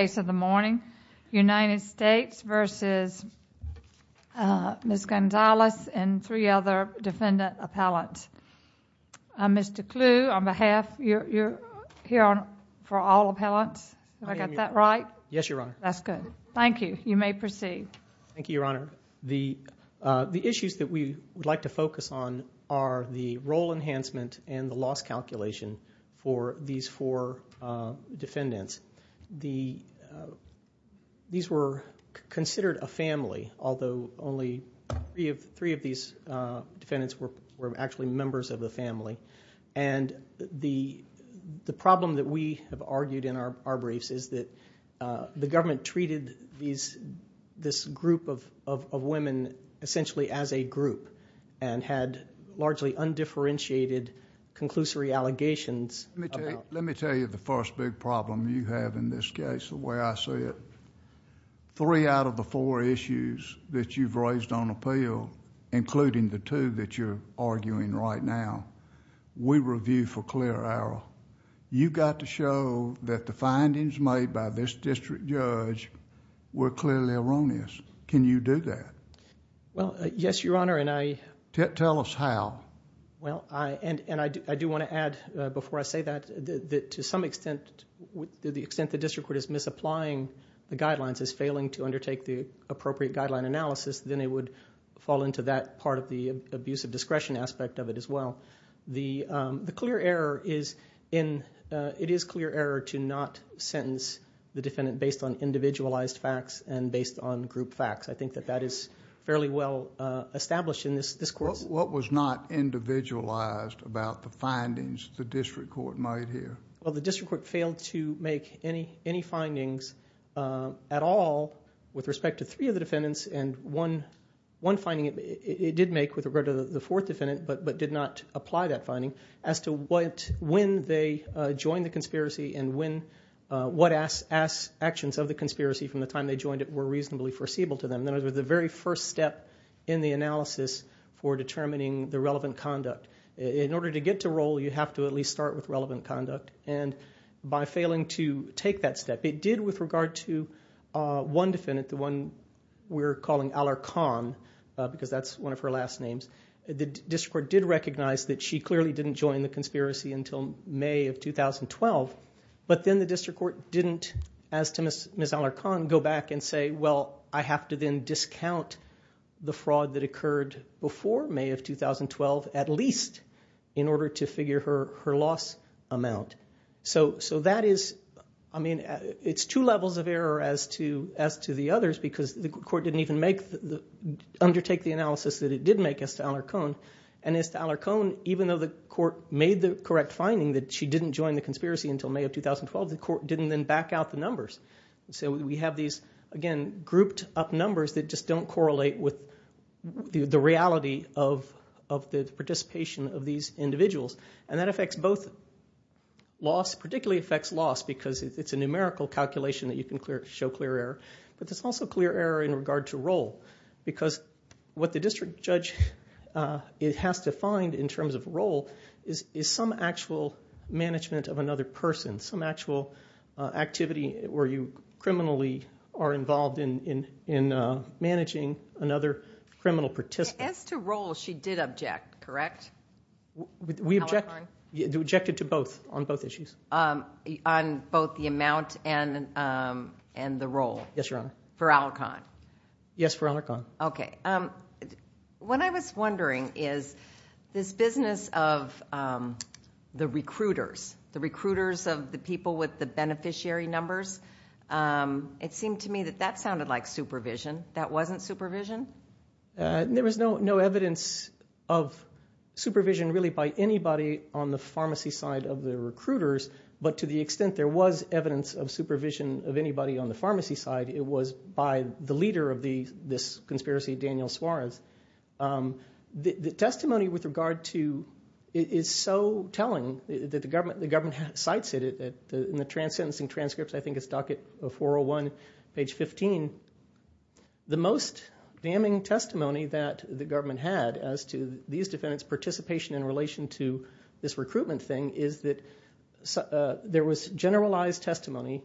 United States v. Ms. Gonzalez and three other defendant appellants. Mr. Clue, on behalf, you're here for all appellants? Have I got that right? Yes, Your Honor. That's good. Thank you. You may proceed. Thank you, Your Honor. The issues that we would like to focus on are the role enhancement and the loss calculation for these four defendants. These were considered a family, although only three of these defendants were actually members of the family. And the problem that we have argued in our briefs is that the government treated this group of women essentially as a group and had largely undifferentiated conclusory allegations. Let me tell you the first big problem you have in this case, the way I see it. Three out of the four issues that you've raised on appeal, including the two that you're arguing right now, we review for clear error. You got to show that the findings made by this district judge were clearly erroneous. Can you do that? Well, yes, Your Honor, and I... Tell us how. Well, I... and I do want to add, before I say that, that to some extent, the extent the district court is misapplying the guidelines, is failing to undertake the appropriate guideline analysis, then it would fall into that part of the abuse of discretion aspect of it as well. The clear error is in... it is clear error to not sentence the defendant based on individualized facts and based on group facts. I think that that is fairly well established in this course. What was not individualized about the findings the district court made here? Well, the district court failed to make any findings at all with respect to three of the defendants, and one finding it did make with regard to the fourth defendant, but did not apply that finding, as to when they joined the conspiracy and what actions of the conspiracy from the time they joined it were reasonably foreseeable to them. And that was the very first step in the analysis for determining the relevant conduct. In order to get to roll, you have to at least start with relevant conduct, and by failing to take that step, it did with regard to one defendant, the one we're calling Aller Khan, because that's one of her last names. The district court did recognize that she clearly didn't join the conspiracy until May of 2012, but then the district court didn't, as to Ms. Aller Khan, go back and say, well, I have to then discount the fraud that occurred before May of 2012 at least in order to figure her loss amount. So that is, I mean, it's two levels of error as to the others because the court didn't even undertake the analysis that it did make as to Aller Khan. And as to Aller Khan, even though the court made the correct finding that she didn't join the conspiracy until May of 2012, the court didn't then back out the numbers. So we have these, again, grouped up numbers that just don't correlate with the reality of the participation of these individuals. And that affects both loss, particularly affects loss, because it's a numerical calculation that you can show clear error. Because what the district judge has to find in terms of role is some actual management of another person, some actual activity where you criminally are involved in managing another criminal participant. As to role, she did object, correct? We objected to both on both issues. On both the amount and the role for Aller Khan? Yes, for Aller Khan. Okay. What I was wondering is this business of the recruiters, the recruiters of the people with the beneficiary numbers, it seemed to me that that sounded like supervision. That wasn't supervision? There was no evidence of supervision really by anybody on the pharmacy side of the recruiters, but to the extent there was evidence of supervision of anybody on the pharmacy side, it was by the leader of this conspiracy, Daniel Suarez. The testimony with regard to it is so telling that the government cites it in the trans-sentencing transcripts. I think it's docket 401, page 15. The most damning testimony that the government had as to these defendants' participation in relation to this recruitment thing is that there was generalized testimony,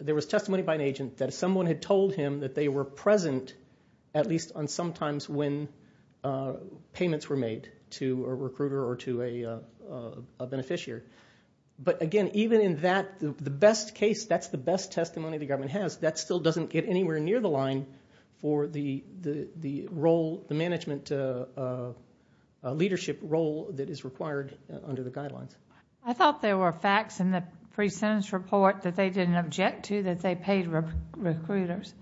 there was testimony by an agent that someone had told him that they were present at least on some times when payments were made to a recruiter or to a beneficiary. But again, even in that, the best case, that's the best testimony the government has. That still doesn't get anywhere near the line for the management leadership role that is required under the guidelines. I thought there were facts in the pre-sentence report that they didn't object to that they paid recruiters.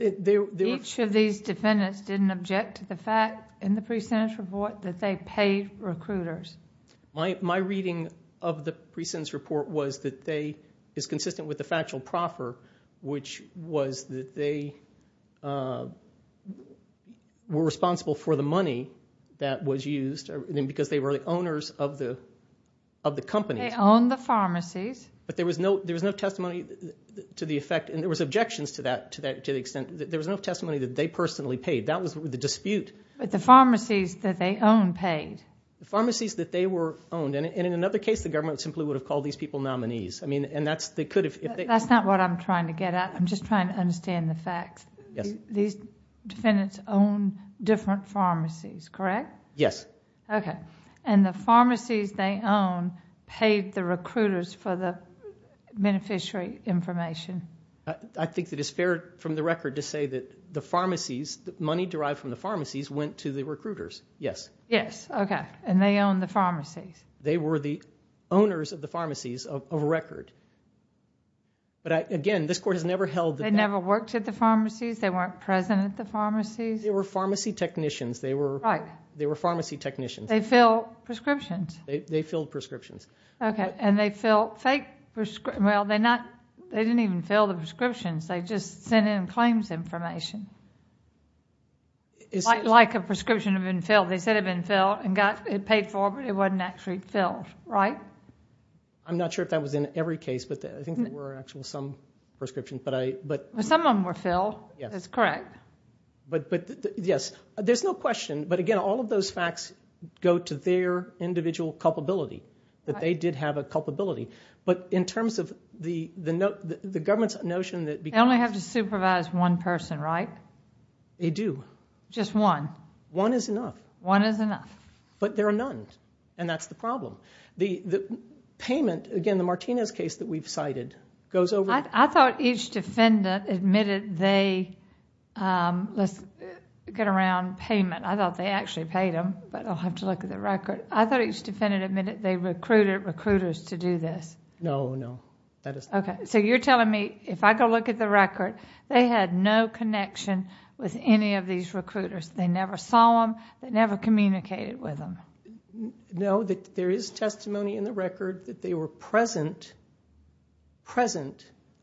Each of these defendants didn't object to the fact in the pre-sentence report that they paid recruiters. My reading of the pre-sentence report was that they, it's consistent with the factual proffer, which was that they were responsible for the money that was used because they were the owners of the company. They owned the pharmacies. But there was no testimony to the effect, and there was objections to that to the extent, there was no testimony that they personally paid. That was the dispute. But the pharmacies that they owned paid. The pharmacies that they owned, and in another case, the government simply would have called these people nominees. That's not what I'm trying to get at. I'm just trying to understand the facts. These defendants owned different pharmacies, correct? Yes. Okay. And the pharmacies they owned paid the recruiters for the beneficiary information. I think that it's fair from the record to say that the pharmacies, the money derived from the pharmacies went to the recruiters, yes. Yes. Okay. And they owned the pharmacies. They were the owners of the pharmacies of record. But, again, this Court has never held that. They never worked at the pharmacies? They weren't present at the pharmacies? They were pharmacy technicians. They were pharmacy technicians. They filled prescriptions. They filled prescriptions. Okay. And they filled fake, well, they didn't even fill the prescriptions. They just sent in claims information. Like a prescription had been filled. They said it had been filled and got paid for, but it wasn't actually filled, right? I'm not sure if that was in every case, but I think there were actually some prescriptions. Well, some of them were filled. That's correct. But, yes, there's no question. But, again, all of those facts go to their individual culpability, that they did have a culpability. But in terms of the government's notion that because of. They have to supervise one person, right? They do. Just one? One is enough. One is enough. But there are none, and that's the problem. The payment, again, the Martinez case that we've cited goes over. I thought each defendant admitted they, let's get around payment. I thought they actually paid them, but I'll have to look at the record. I thought each defendant admitted they recruited recruiters to do this. No, no. Okay. So you're telling me if I go look at the record, they had no connection with any of these recruiters. They never saw them. They never communicated with them. No, there is testimony in the record that they were present,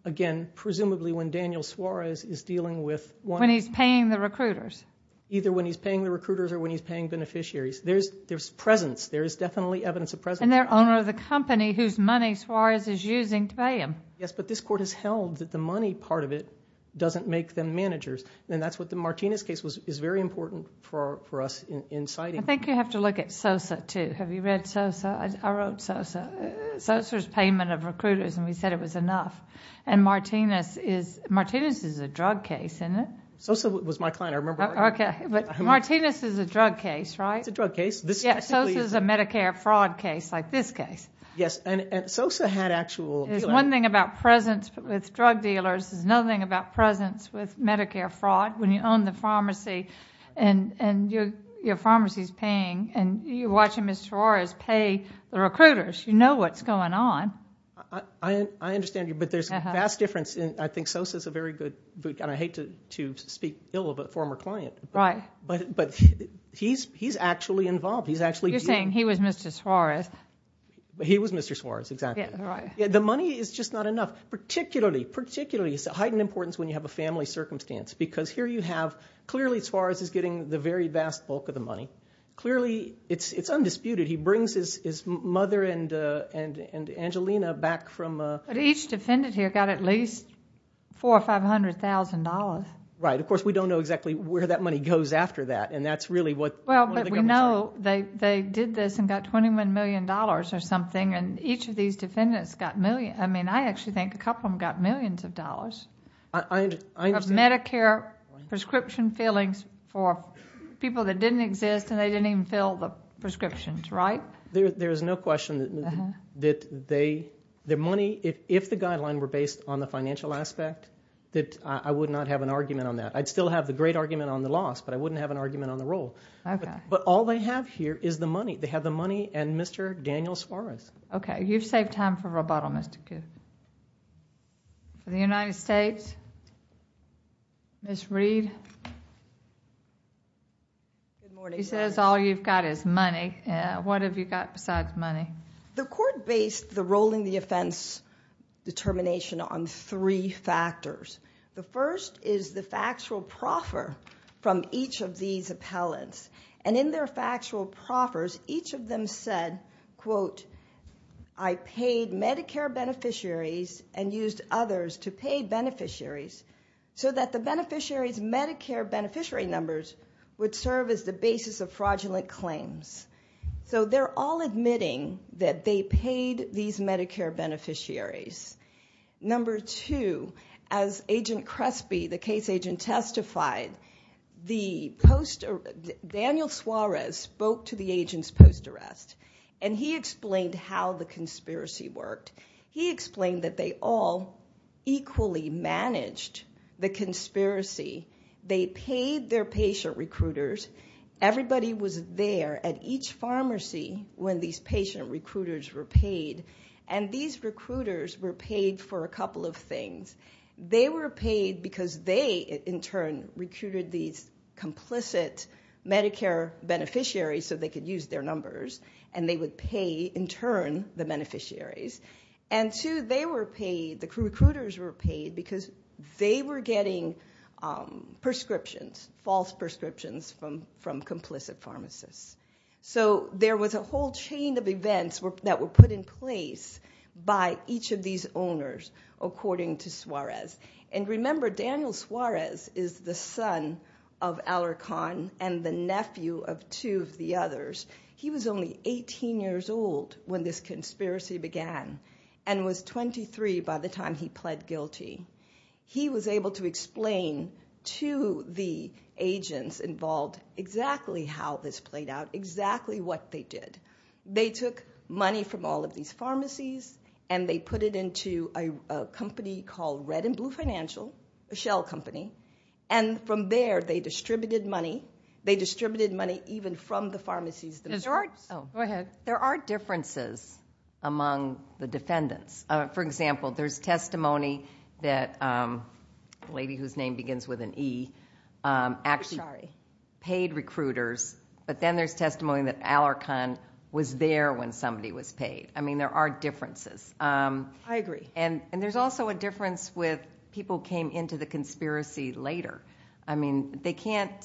again, presumably when Daniel Suarez is dealing with one. When he's paying the recruiters. Either when he's paying the recruiters or when he's paying beneficiaries. There's presence. There is definitely evidence of presence. And they're owner of the company whose money Suarez is using to pay him. Yes, but this court has held that the money part of it doesn't make them managers. And that's what the Martinez case is very important for us in citing. I think you have to look at Sosa, too. Have you read Sosa? I wrote Sosa. Sosa's payment of recruiters, and we said it was enough. And Martinez is a drug case, isn't it? Sosa was my client. I remember. Okay. But Martinez is a drug case, right? It's a drug case. Yeah, Sosa is a Medicare fraud case like this case. Yes, and Sosa had actual appeal. One thing about presence with drug dealers is nothing about presence with Medicare fraud. When you own the pharmacy and your pharmacy is paying, and you're watching Mr. Suarez pay the recruiters, you know what's going on. I understand you, but there's a vast difference. I think Sosa is a very good boot camp. I hate to speak ill of a former client. Right. But he's actually involved. You're saying he was Mr. Suarez. He was Mr. Suarez, exactly. The money is just not enough, particularly, particularly. It's of heightened importance when you have a family circumstance because here you have clearly Suarez is getting the very vast bulk of the money. Clearly it's undisputed. He brings his mother and Angelina back from a ---- But each defendant here got at least $400,000 or $500,000. Right. Of course, we don't know exactly where that money goes after that, and that's really what the government's doing. Well, but we know they did this and got $21 million or something, and each of these defendants got millions. I mean, I actually think a couple of them got millions of dollars. I understand. Of Medicare prescription fillings for people that didn't exist and they didn't even fill the prescriptions, right? There is no question that their money, if the guidelines were based on the financial aspect, that I would not have an argument on that. I'd still have the great argument on the loss, But all they have here is the money. They have the money and Mr. Daniel Suarez. Okay. You've saved time for rebuttal, Mr. Coon. For the United States, Ms. Reed. She says all you've got is money. What have you got besides money? The court based the role in the offense determination on three factors. The first is the factual proffer from each of these appellants, and in their factual proffers, each of them said, quote, I paid Medicare beneficiaries and used others to pay beneficiaries so that the beneficiaries' Medicare beneficiary numbers would serve as the basis of fraudulent claims. So they're all admitting that they paid these Medicare beneficiaries. Number two, as Agent Crespi, the case agent, testified, Daniel Suarez spoke to the agents post-arrest, and he explained how the conspiracy worked. He explained that they all equally managed the conspiracy. They paid their patient recruiters. Everybody was there at each pharmacy when these patient recruiters were paid, and these recruiters were paid for a couple of things. They were paid because they, in turn, recruited these complicit Medicare beneficiaries so they could use their numbers, and they would pay, in turn, the beneficiaries. And two, they were paid, the recruiters were paid, because they were getting prescriptions, false prescriptions from complicit pharmacists. So there was a whole chain of events that were put in place by each of these owners, according to Suarez. And remember, Daniel Suarez is the son of Alarcon and the nephew of two of the others. He was only 18 years old when this conspiracy began and was 23 by the time he pled guilty. He was able to explain to the agents involved exactly how this played out, exactly what they did. They took money from all of these pharmacies, and they put it into a company called Red and Blue Financial, a shell company, and from there they distributed money. They distributed money even from the pharmacies themselves. There are differences among the defendants. For example, there's testimony that a lady whose name begins with an E actually paid recruiters, but then there's testimony that Alarcon was there when somebody was paid. I mean, there are differences. I agree. And there's also a difference with people who came into the conspiracy later. I mean, they can't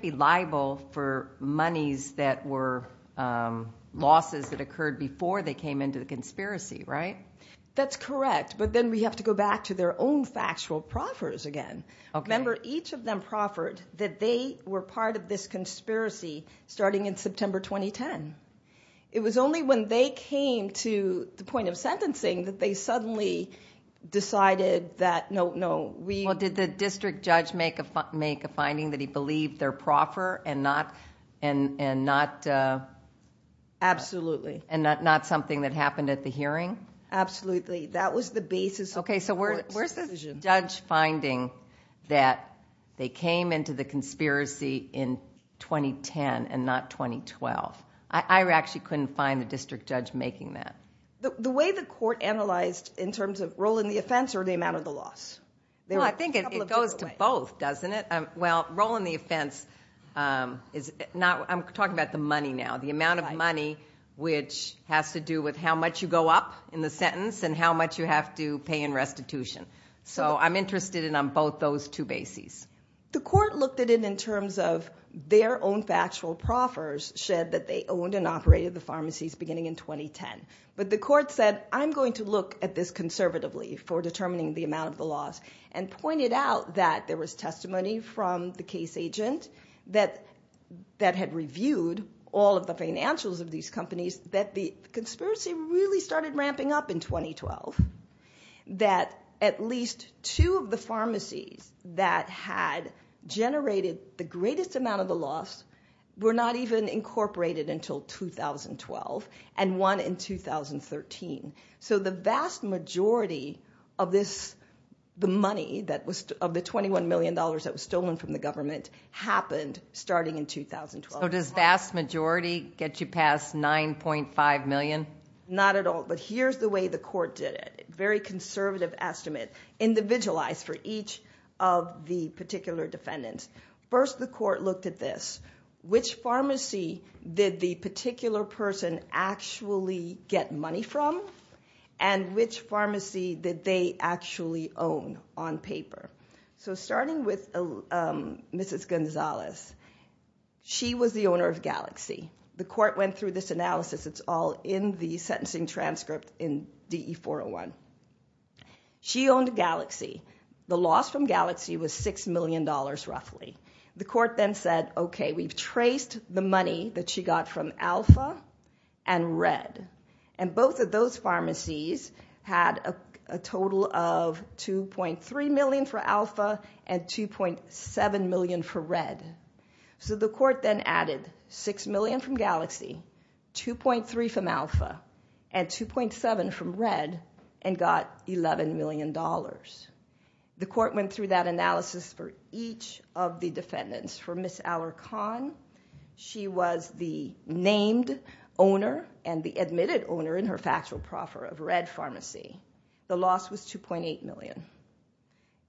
be liable for monies that were losses that occurred before they came into the conspiracy, right? That's correct, but then we have to go back to their own factual proffers again. Remember, each of them proffered that they were part of this conspiracy starting in September 2010. It was only when they came to the point of sentencing that they suddenly decided that no, no. Well, did the district judge make a finding that he believed their proffer and not something that happened at the hearing? Absolutely. That was the basis of the court's decision. There was no judge finding that they came into the conspiracy in 2010 and not 2012. I actually couldn't find a district judge making that. The way the court analyzed in terms of role in the offense or the amount of the loss? I think it goes to both, doesn't it? Well, role in the offense, I'm talking about the money now, the amount of money which has to do with how much you go up in the sentence and how much you have to pay in restitution. So I'm interested in both those two bases. The court looked at it in terms of their own factual proffers said that they owned and operated the pharmacies beginning in 2010. But the court said, I'm going to look at this conservatively for determining the amount of the loss and pointed out that there was testimony from the case agent that had reviewed all of the financials of these companies that the conspiracy really started ramping up in 2012, that at least two of the pharmacies that had generated the greatest amount of the loss were not even incorporated until 2012 and one in 2013. So the vast majority of the money, of the $21 million that was stolen from the government, happened starting in 2012. So does vast majority get you past $9.5 million? Not at all. But here's the way the court did it, a very conservative estimate, individualized for each of the particular defendants. First, the court looked at this. Which pharmacy did the particular person actually get money from and which pharmacy did they actually own on paper? So starting with Mrs. Gonzalez, she was the owner of Galaxy. The court went through this analysis. It's all in the sentencing transcript in DE-401. She owned Galaxy. The loss from Galaxy was $6 million roughly. The court then said, okay, we've traced the money that she got from Alpha and Red, and both of those pharmacies had a total of $2.3 million for Alpha and $2.7 million for Red. So the court then added $6 million from Galaxy, $2.3 from Alpha, and $2.7 from Red, and got $11 million. The court went through that analysis for each of the defendants. For Ms. Alarcon, she was the named owner and the admitted owner in her factual proffer of Red Pharmacy. The loss was $2.8 million.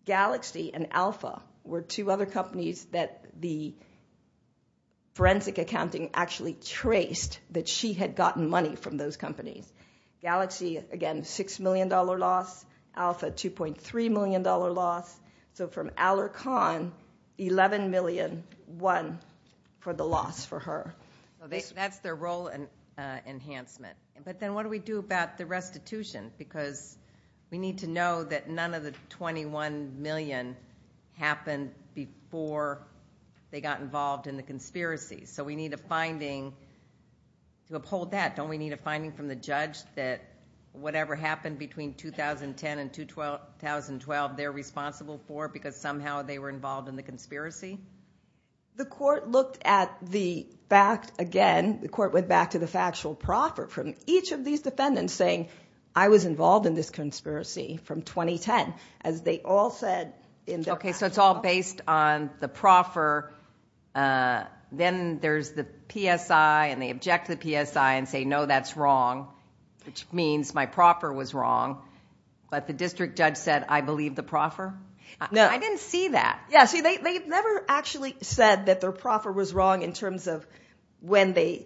Galaxy and Alpha were two other companies that the forensic accounting actually traced that she had gotten money from those companies. Galaxy, again, $6 million loss. Alpha, $2.3 million loss. So from Alarcon, $11 million won for the loss for her. That's their role enhancement. But then what do we do about the restitution? Because we need to know that none of the $21 million happened before they got involved in the conspiracy. So we need a finding to uphold that. Don't we need a finding from the judge that whatever happened between 2010 and 2012, they're responsible for because somehow they were involved in the conspiracy? The court looked at the fact again. The court went back to the factual proffer from each of these defendants saying, I was involved in this conspiracy from 2010, as they all said in their proffer. Okay, so it's all based on the proffer. Then there's the PSI, and they object to the PSI and say, no, that's wrong, which means my proffer was wrong. But the district judge said, I believe the proffer? No. I didn't see that. Yeah, see, they never actually said that their proffer was wrong in terms of when the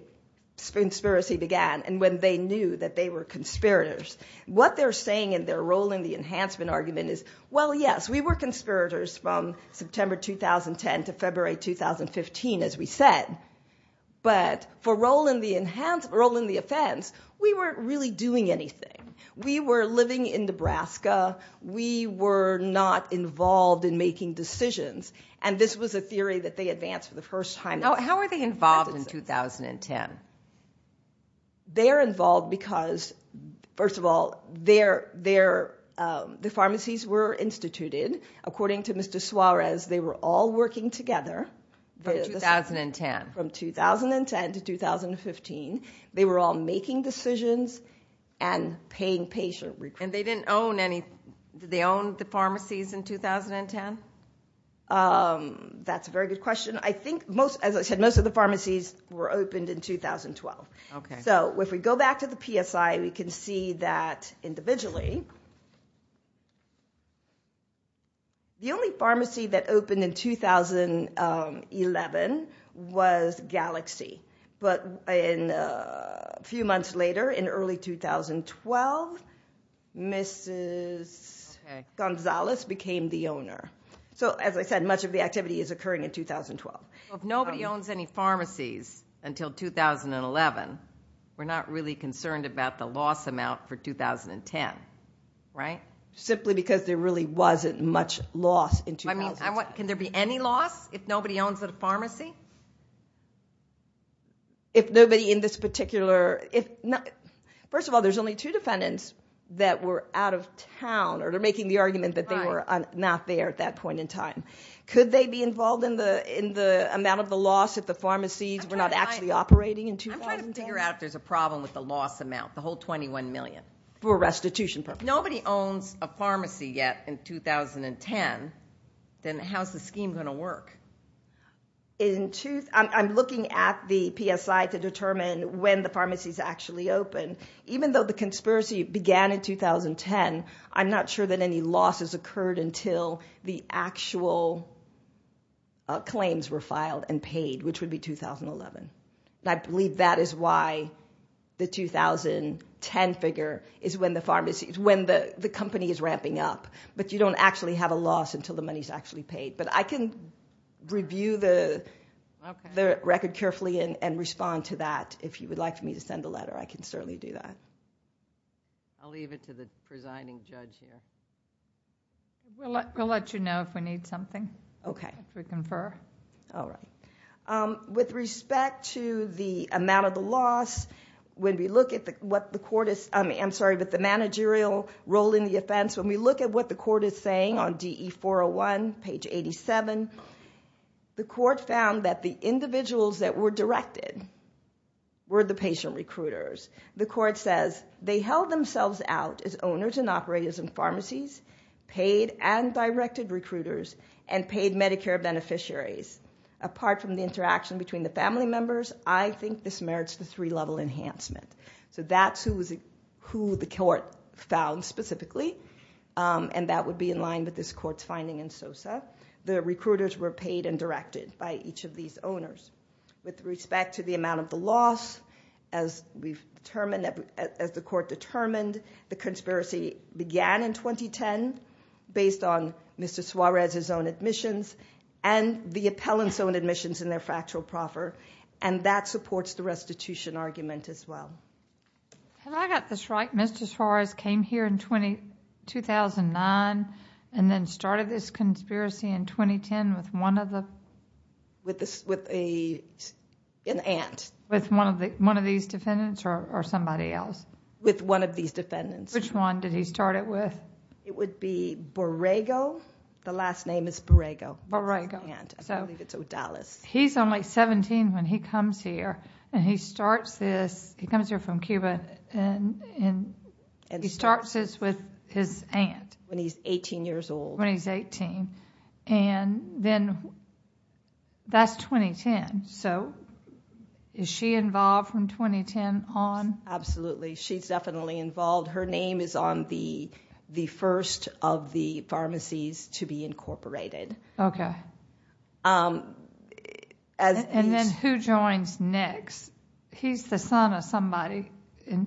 conspiracy began. And when they knew that they were conspirators. What they're saying in their role in the enhancement argument is, well, yes, we were conspirators from September 2010 to February 2015, as we said. But for role in the offense, we weren't really doing anything. We were living in Nebraska. We were not involved in making decisions. And this was a theory that they advanced for the first time. How are they involved in 2010? They're involved because, first of all, the pharmacies were instituted. According to Mr. Suarez, they were all working together. From 2010? From 2010 to 2015. They were all making decisions and paying patient recruitment. And they didn't own any? Did they own the pharmacies in 2010? That's a very good question. I think, as I said, most of the pharmacies were opened in 2012. So if we go back to the PSI, we can see that, individually, the only pharmacy that opened in 2011 was Galaxy. But a few months later, in early 2012, Mrs. Gonzalez became the owner. So, as I said, much of the activity is occurring in 2012. If nobody owns any pharmacies until 2011, we're not really concerned about the loss amount for 2010, right? Simply because there really wasn't much loss in 2012. Can there be any loss if nobody owns a pharmacy? If nobody in this particular... First of all, there's only two defendants that were out of town, or they're making the argument that they were not there at that point in time. Could they be involved in the amount of the loss if the pharmacies were not actually operating in 2012? I'm trying to figure out if there's a problem with the loss amount, the whole $21 million. For restitution purposes. Nobody owns a pharmacy yet in 2010. Then how's the scheme going to work? I'm looking at the PSI to determine when the pharmacies actually opened. Even though the conspiracy began in 2010, I'm not sure that any loss has occurred until the actual claims were filed and paid, which would be 2011. I believe that is why the 2010 figure is when the company is ramping up. But you don't actually have a loss until the money is actually paid. But I can review the record carefully and respond to that. If you would like me to send a letter, I can certainly do that. I'll leave it to the presiding judge here. We'll let you know if we need something. Okay. If we confer. All right. With respect to the amount of the loss, when we look at what the court is saying, I'm sorry, but the managerial role in the offense, when we look at what the court is saying on DE-401, page 87, the court found that the individuals that were directed were the patient recruiters. The court says, they held themselves out as owners and operators in pharmacies, paid and directed recruiters, and paid Medicare beneficiaries. Apart from the interaction between the family members, I think this merits the three-level enhancement. So that's who the court found specifically, and that would be in line with this court's finding in SOSA. The recruiters were paid and directed by each of these owners. With respect to the amount of the loss, as the court determined, the conspiracy began in 2010 based on Mr. Suarez's own admissions and the appellant's own admissions in their factual proffer, and that supports the restitution argument as well. Have I got this right? Mr. Suarez came here in 2009 and then started this conspiracy in 2010 with one of the? With an aunt. With one of these defendants or somebody else? With one of these defendants. Which one did he start it with? It would be Borrego. The last name is Borrego. Borrego. I believe it's Odalis. He's only seventeen when he comes here, and he starts this... he comes here from Cuba, and he starts this with his aunt. When he's eighteen years old. When he's eighteen. And then that's 2010. So is she involved from 2010 on? Absolutely. She's definitely involved. Her name is on the first of the pharmacies to be incorporated. Okay. And then who joins next? He's the son of somebody.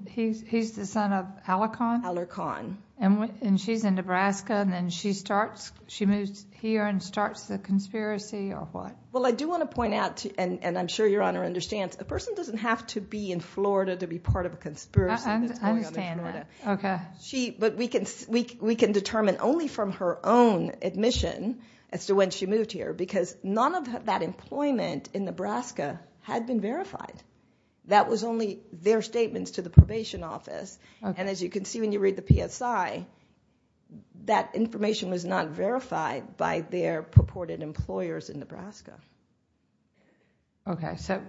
He's the son of Alarcon? Alarcon. And she's in Nebraska, and then she moves here and starts the conspiracy or what? Well, I do want to point out, and I'm sure Your Honor understands, a person doesn't have to be in Florida to be part of a conspiracy. I understand that. But we can determine only from her own admission as to when she moved here because none of that employment in Nebraska had been verified. That was only their statements to the probation office. And as you can see when you read the PSI, that information was not verified by their purported employers in Nebraska. Okay. So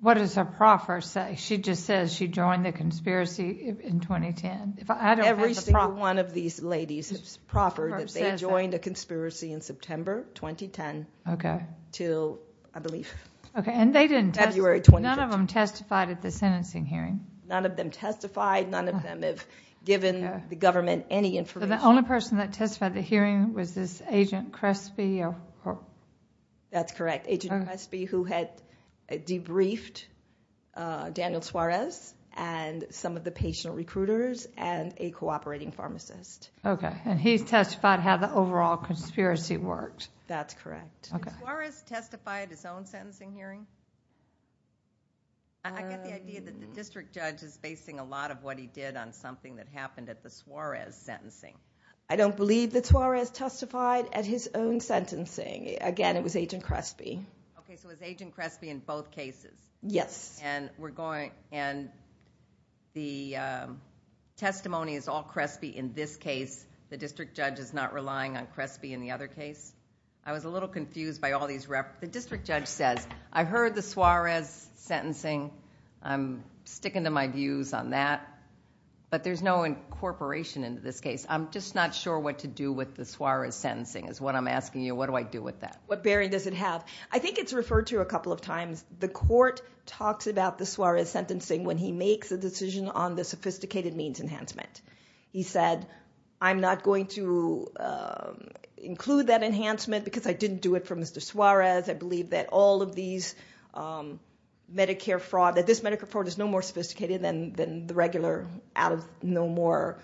what does her proffer say? She just says she joined the conspiracy in 2010. Every single one of these ladies proffered that they joined a conspiracy in September 2010 until, I believe, February 2010. Okay. And none of them testified at the sentencing hearing? None of them testified. None of them have given the government any information. The only person that testified at the hearing was this Agent Crespi? That's correct. Agent Crespi who had debriefed Daniel Suarez and some of the patient recruiters and a cooperating pharmacist. Okay. And he testified how the overall conspiracy worked. That's correct. Did Suarez testify at his own sentencing hearing? I get the idea that the district judge is basing a lot of what he did on something that happened at the Suarez sentencing. I don't believe that Suarez testified at his own sentencing. Again, it was Agent Crespi. Okay. So it was Agent Crespi in both cases? Yes. And the testimony is all Crespi in this case. The district judge is not relying on Crespi in the other case? I was a little confused by all these... The district judge says, I heard the Suarez sentencing. I'm sticking to my views on that. But there's no incorporation into this case. I'm just not sure what to do with the Suarez sentencing is what I'm asking you. What do I do with that? What bearing does it have? I think it's referred to a couple of times. The court talks about the Suarez sentencing when he makes a decision on the sophisticated means enhancement. He said, I'm not going to include that enhancement because I didn't do it for Mr. Suarez. I believe that all of these Medicare fraud... that this Medicare fraud is no more sophisticated than the regular, no more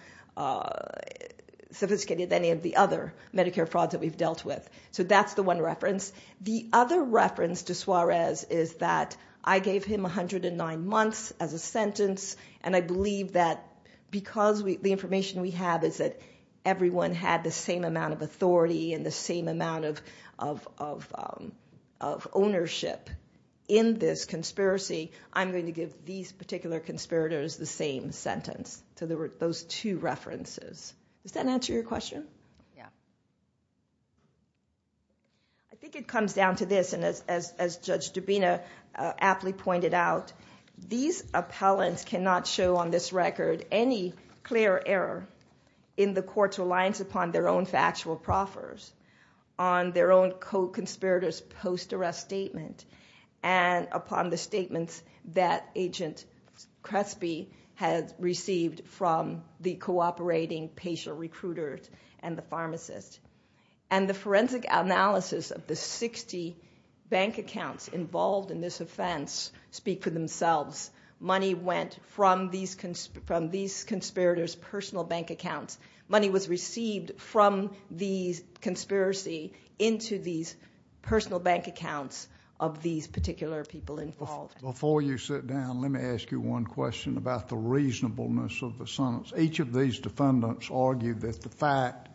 sophisticated than any of the other Medicare frauds that we've dealt with. So that's the one reference. The other reference to Suarez is that I gave him 109 months as a sentence, and I believe that because the information we have is that everyone had the same amount of authority and the same amount of ownership in this conspiracy, I'm going to give these particular conspirators the same sentence. So those two references. Does that answer your question? I think it comes down to this, and as Judge Dubina aptly pointed out, these appellants cannot show on this record any clear error in the court's reliance upon their own factual proffers, on their own co-conspirator's post-arrest statement, and upon the statements that Agent Crespi had received from the cooperating patient recruiters and the pharmacist. And the forensic analysis of the 60 bank accounts involved in this offense speak for themselves. Money went from these conspirators' personal bank accounts. Money was received from the conspiracy into these personal bank accounts of these particular people involved. Before you sit down, let me ask you one question about the reasonableness of the sentence. Each of these defendants argued that the fact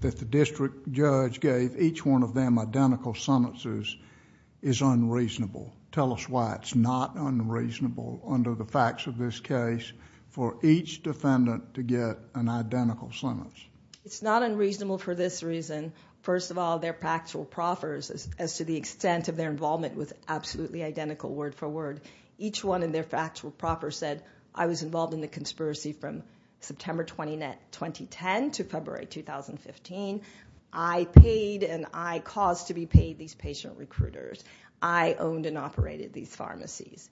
that the district judge gave each one of them identical sentences is unreasonable. Tell us why it's not unreasonable under the facts of this case for each defendant to get an identical sentence. It's not unreasonable for this reason. First of all, their factual proffers, as to the extent of their involvement with absolutely identical word for word, each one in their factual proffers said, I was involved in the conspiracy from September 20, 2010 to February 2015. I paid and I caused to be paid these patient recruiters. I owned and operated these pharmacies.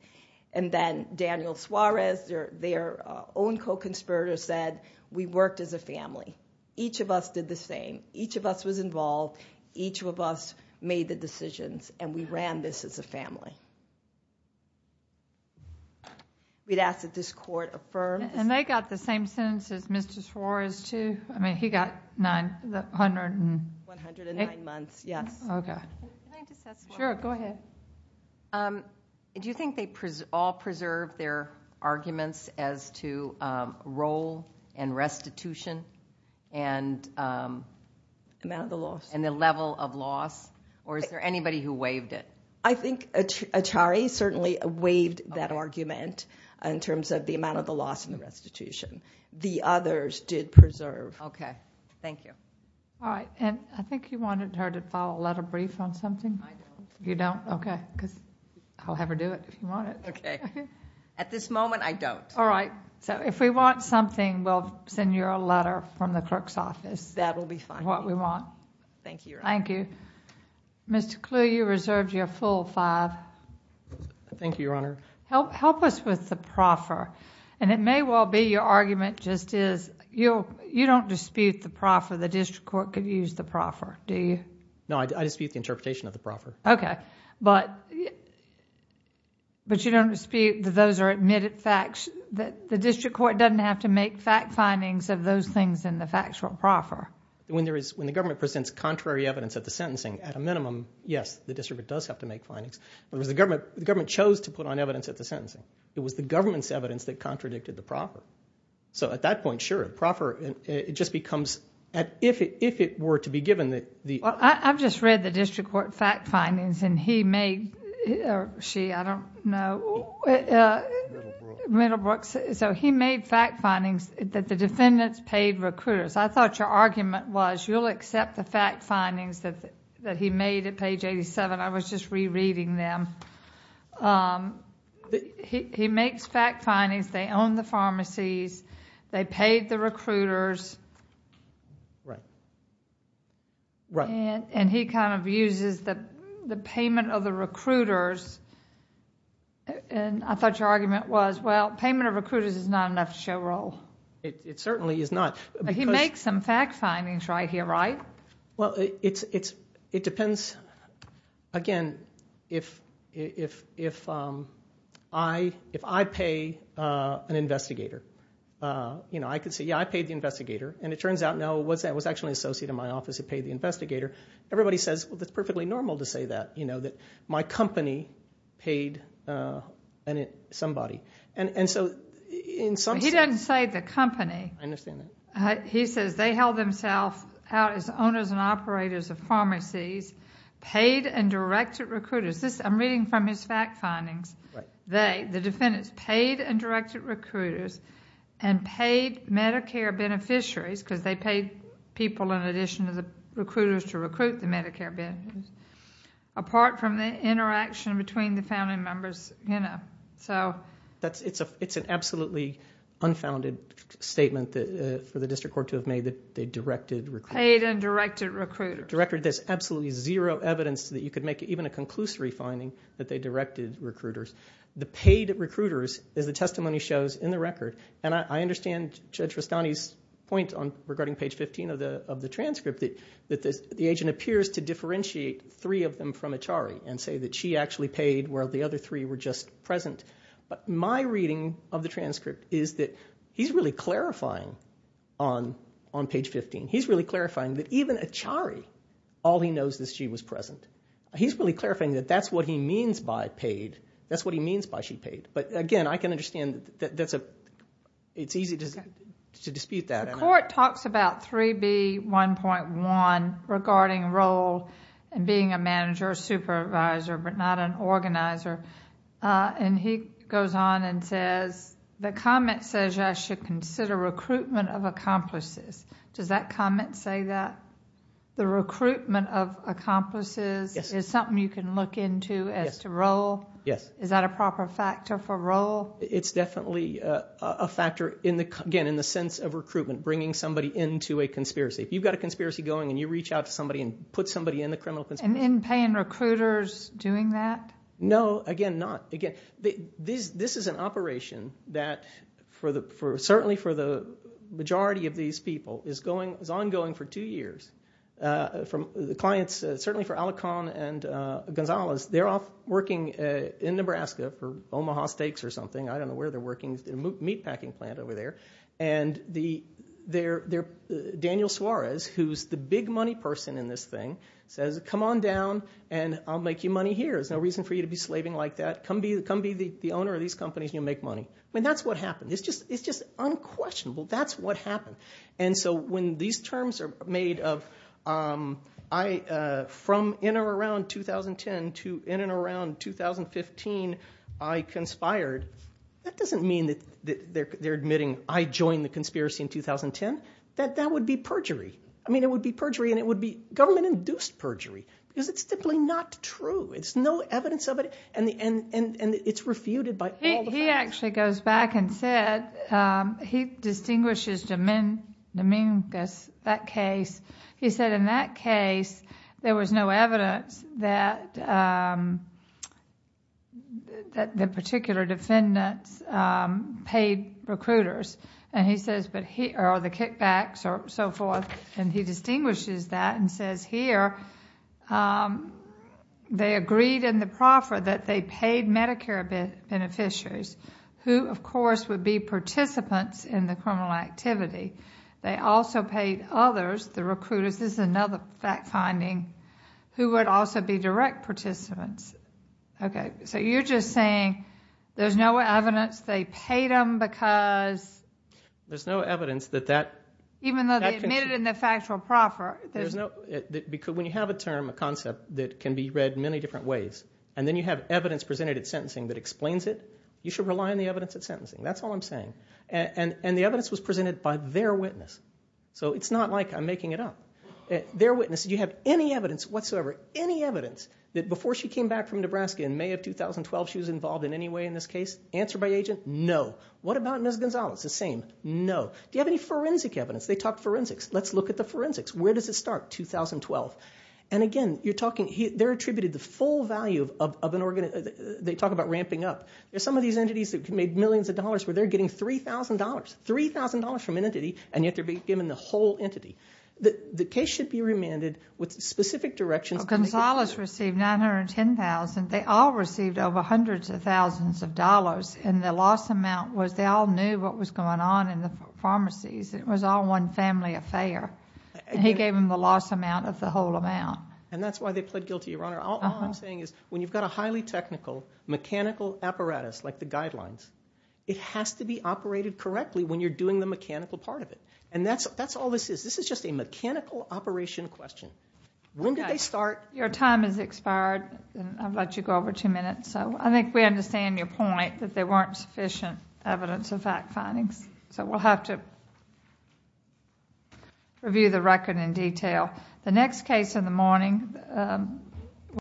And then Daniel Suarez, their own co-conspirator, said, we worked as a family. Each of us did the same. Each of us was involved. Each of us made the decisions. And we ran this as a family. We'd ask that this court affirm. And they got the same sentence as Mr. Suarez, too? I mean, he got nine. 109 months, yes. Sure, go ahead. Do you think they all preserved their arguments as to role and restitution and the level of loss? Or is there anybody who waived it? I think Atari certainly waived that argument in terms of the amount of the loss and the restitution. The others did preserve. Okay. Thank you. All right. And I think you wanted her to file a letter brief on something. I don't. You don't? Okay. Because I'll have her do it if you want it. Okay. At this moment, I don't. All right. So if we want something, we'll send you a letter from the clerk's office. That will be fine. What we want. Thank you, Your Honor. Thank you. Mr. Kluge, you reserved your full five. Thank you, Your Honor. Help us with the proffer. And it may well be your argument just is you don't dispute the proffer. The district court could use the proffer, do you? No, I dispute the interpretation of the proffer. Okay. But you don't dispute that those are admitted facts, that the district court doesn't have to make fact findings of those things in the factual proffer? When the government presents contrary evidence at the sentencing, at a minimum, yes, the district does have to make findings. The government chose to put on evidence at the sentencing. It was the government's evidence that contradicted the proffer. So at that point, sure, a proffer, it just becomes, if it were to be given. I've just read the district court fact findings, and he made, or she, I don't know. Middlebrook. Middlebrook. So he made fact findings that the defendants paid recruiters. I thought your argument was you'll accept the fact findings that he made at page 87. I was just rereading them. He makes fact findings, they own the pharmacies, they paid the recruiters. Right. And he kind of uses the payment of the recruiters, and I thought your argument was, well, payment of recruiters is not enough to show role. It certainly is not. But he makes some fact findings right here, right? Well, it depends. Again, if I pay an investigator, you know, I could say, yeah, I paid the investigator, and it turns out, no, it was actually an associate in my office who paid the investigator. Everybody says, well, that's perfectly normal to say that, you know, that my company paid somebody. And so in some sense. He doesn't say the company. I understand that. He says they held themselves out as owners and operators of pharmacies, paid and directed recruiters. I'm reading from his fact findings. They, the defendants, paid and directed recruiters and paid Medicare beneficiaries because they paid people in addition to the recruiters to recruit the Medicare beneficiaries, apart from the interaction between the family members, you know. It's an absolutely unfounded statement for the district court to have made that they directed recruiters. Paid and directed recruiters. There's absolutely zero evidence that you could make even a conclusory finding that they directed recruiters. The paid recruiters, as the testimony shows in the record, and I understand Judge Rastani's point regarding page 15 of the transcript, and say that she actually paid while the other three were just present. But my reading of the transcript is that he's really clarifying on page 15. He's really clarifying that even Achari, all he knows is she was present. He's really clarifying that that's what he means by paid. That's what he means by she paid. But, again, I can understand that that's a, it's easy to dispute that. The court talks about 3B1.1 regarding role and being a manager or supervisor but not an organizer. And he goes on and says, the comment says I should consider recruitment of accomplices. Does that comment say that? The recruitment of accomplices is something you can look into as to role? Yes. Is that a proper factor for role? It's definitely a factor, again, in the sense of recruitment, bringing somebody into a conspiracy. If you've got a conspiracy going and you reach out to somebody and put somebody in the criminal conspiracy. And in-paying recruiters doing that? No, again, not. Again, this is an operation that certainly for the majority of these people is ongoing for two years. The clients, certainly for Alacon and Gonzalez, they're all working in Nebraska for Omaha Steaks or something. I don't know where they're working. It's a meatpacking plant over there. And Daniel Suarez, who's the big money person in this thing, says come on down and I'll make you money here. There's no reason for you to be slaving like that. Come be the owner of these companies and you'll make money. I mean that's what happened. It's just unquestionable. That's what happened. And so when these terms are made of from in or around 2010 to in and around 2015 I conspired, that doesn't mean that they're admitting I joined the conspiracy in 2010. That would be perjury. I mean it would be perjury and it would be government-induced perjury because it's simply not true. It's no evidence of it and it's refuted by all the facts. He actually goes back and said, he distinguishes Dominguez, that case. He said in that case there was no evidence that the particular defendants paid recruiters. And he says, or the kickbacks or so forth, and he distinguishes that and says here, they agreed in the proffer that they paid Medicare beneficiaries who, of course, would be participants in the criminal activity. They also paid others, the recruiters. This is another fact-finding, who would also be direct participants. Okay, so you're just saying there's no evidence they paid them because... There's no evidence that that... Even though they admitted in the factual proffer. When you have a term, a concept that can be read many different ways, and then you have evidence presented at sentencing that explains it, you should rely on the evidence at sentencing. That's all I'm saying. And the evidence was presented by their witness. So it's not like I'm making it up. Their witness, did you have any evidence whatsoever, any evidence, that before she came back from Nebraska in May of 2012 she was involved in any way in this case? Answer by agent, no. What about Ms. Gonzalez? The same, no. Do you have any forensic evidence? They talked forensics. Let's look at the forensics. Where does it start? 2012. And again, you're talking, they're attributed the full value of an organ... They talk about ramping up. There's some of these entities that can make millions of dollars where they're getting $3,000, $3,000 from an entity, and yet they're being given the whole entity. The case should be remanded with specific directions... Well, Gonzalez received $910,000. They all received over hundreds of thousands of dollars, and the loss amount was they all knew what was going on in the pharmacies. It was all one family affair. And he gave them the loss amount of the whole amount. And that's why they pled guilty, Your Honor. All I'm saying is when you've got a highly technical, mechanical apparatus like the guidelines, it has to be operated correctly when you're doing the mechanical part of it. And that's all this is. This is just a mechanical operation question. When did they start? Your time has expired, and I've let you go over two minutes. So I think we understand your point that there weren't sufficient evidence and fact findings. So we'll have to review the record in detail. The next case in the morning...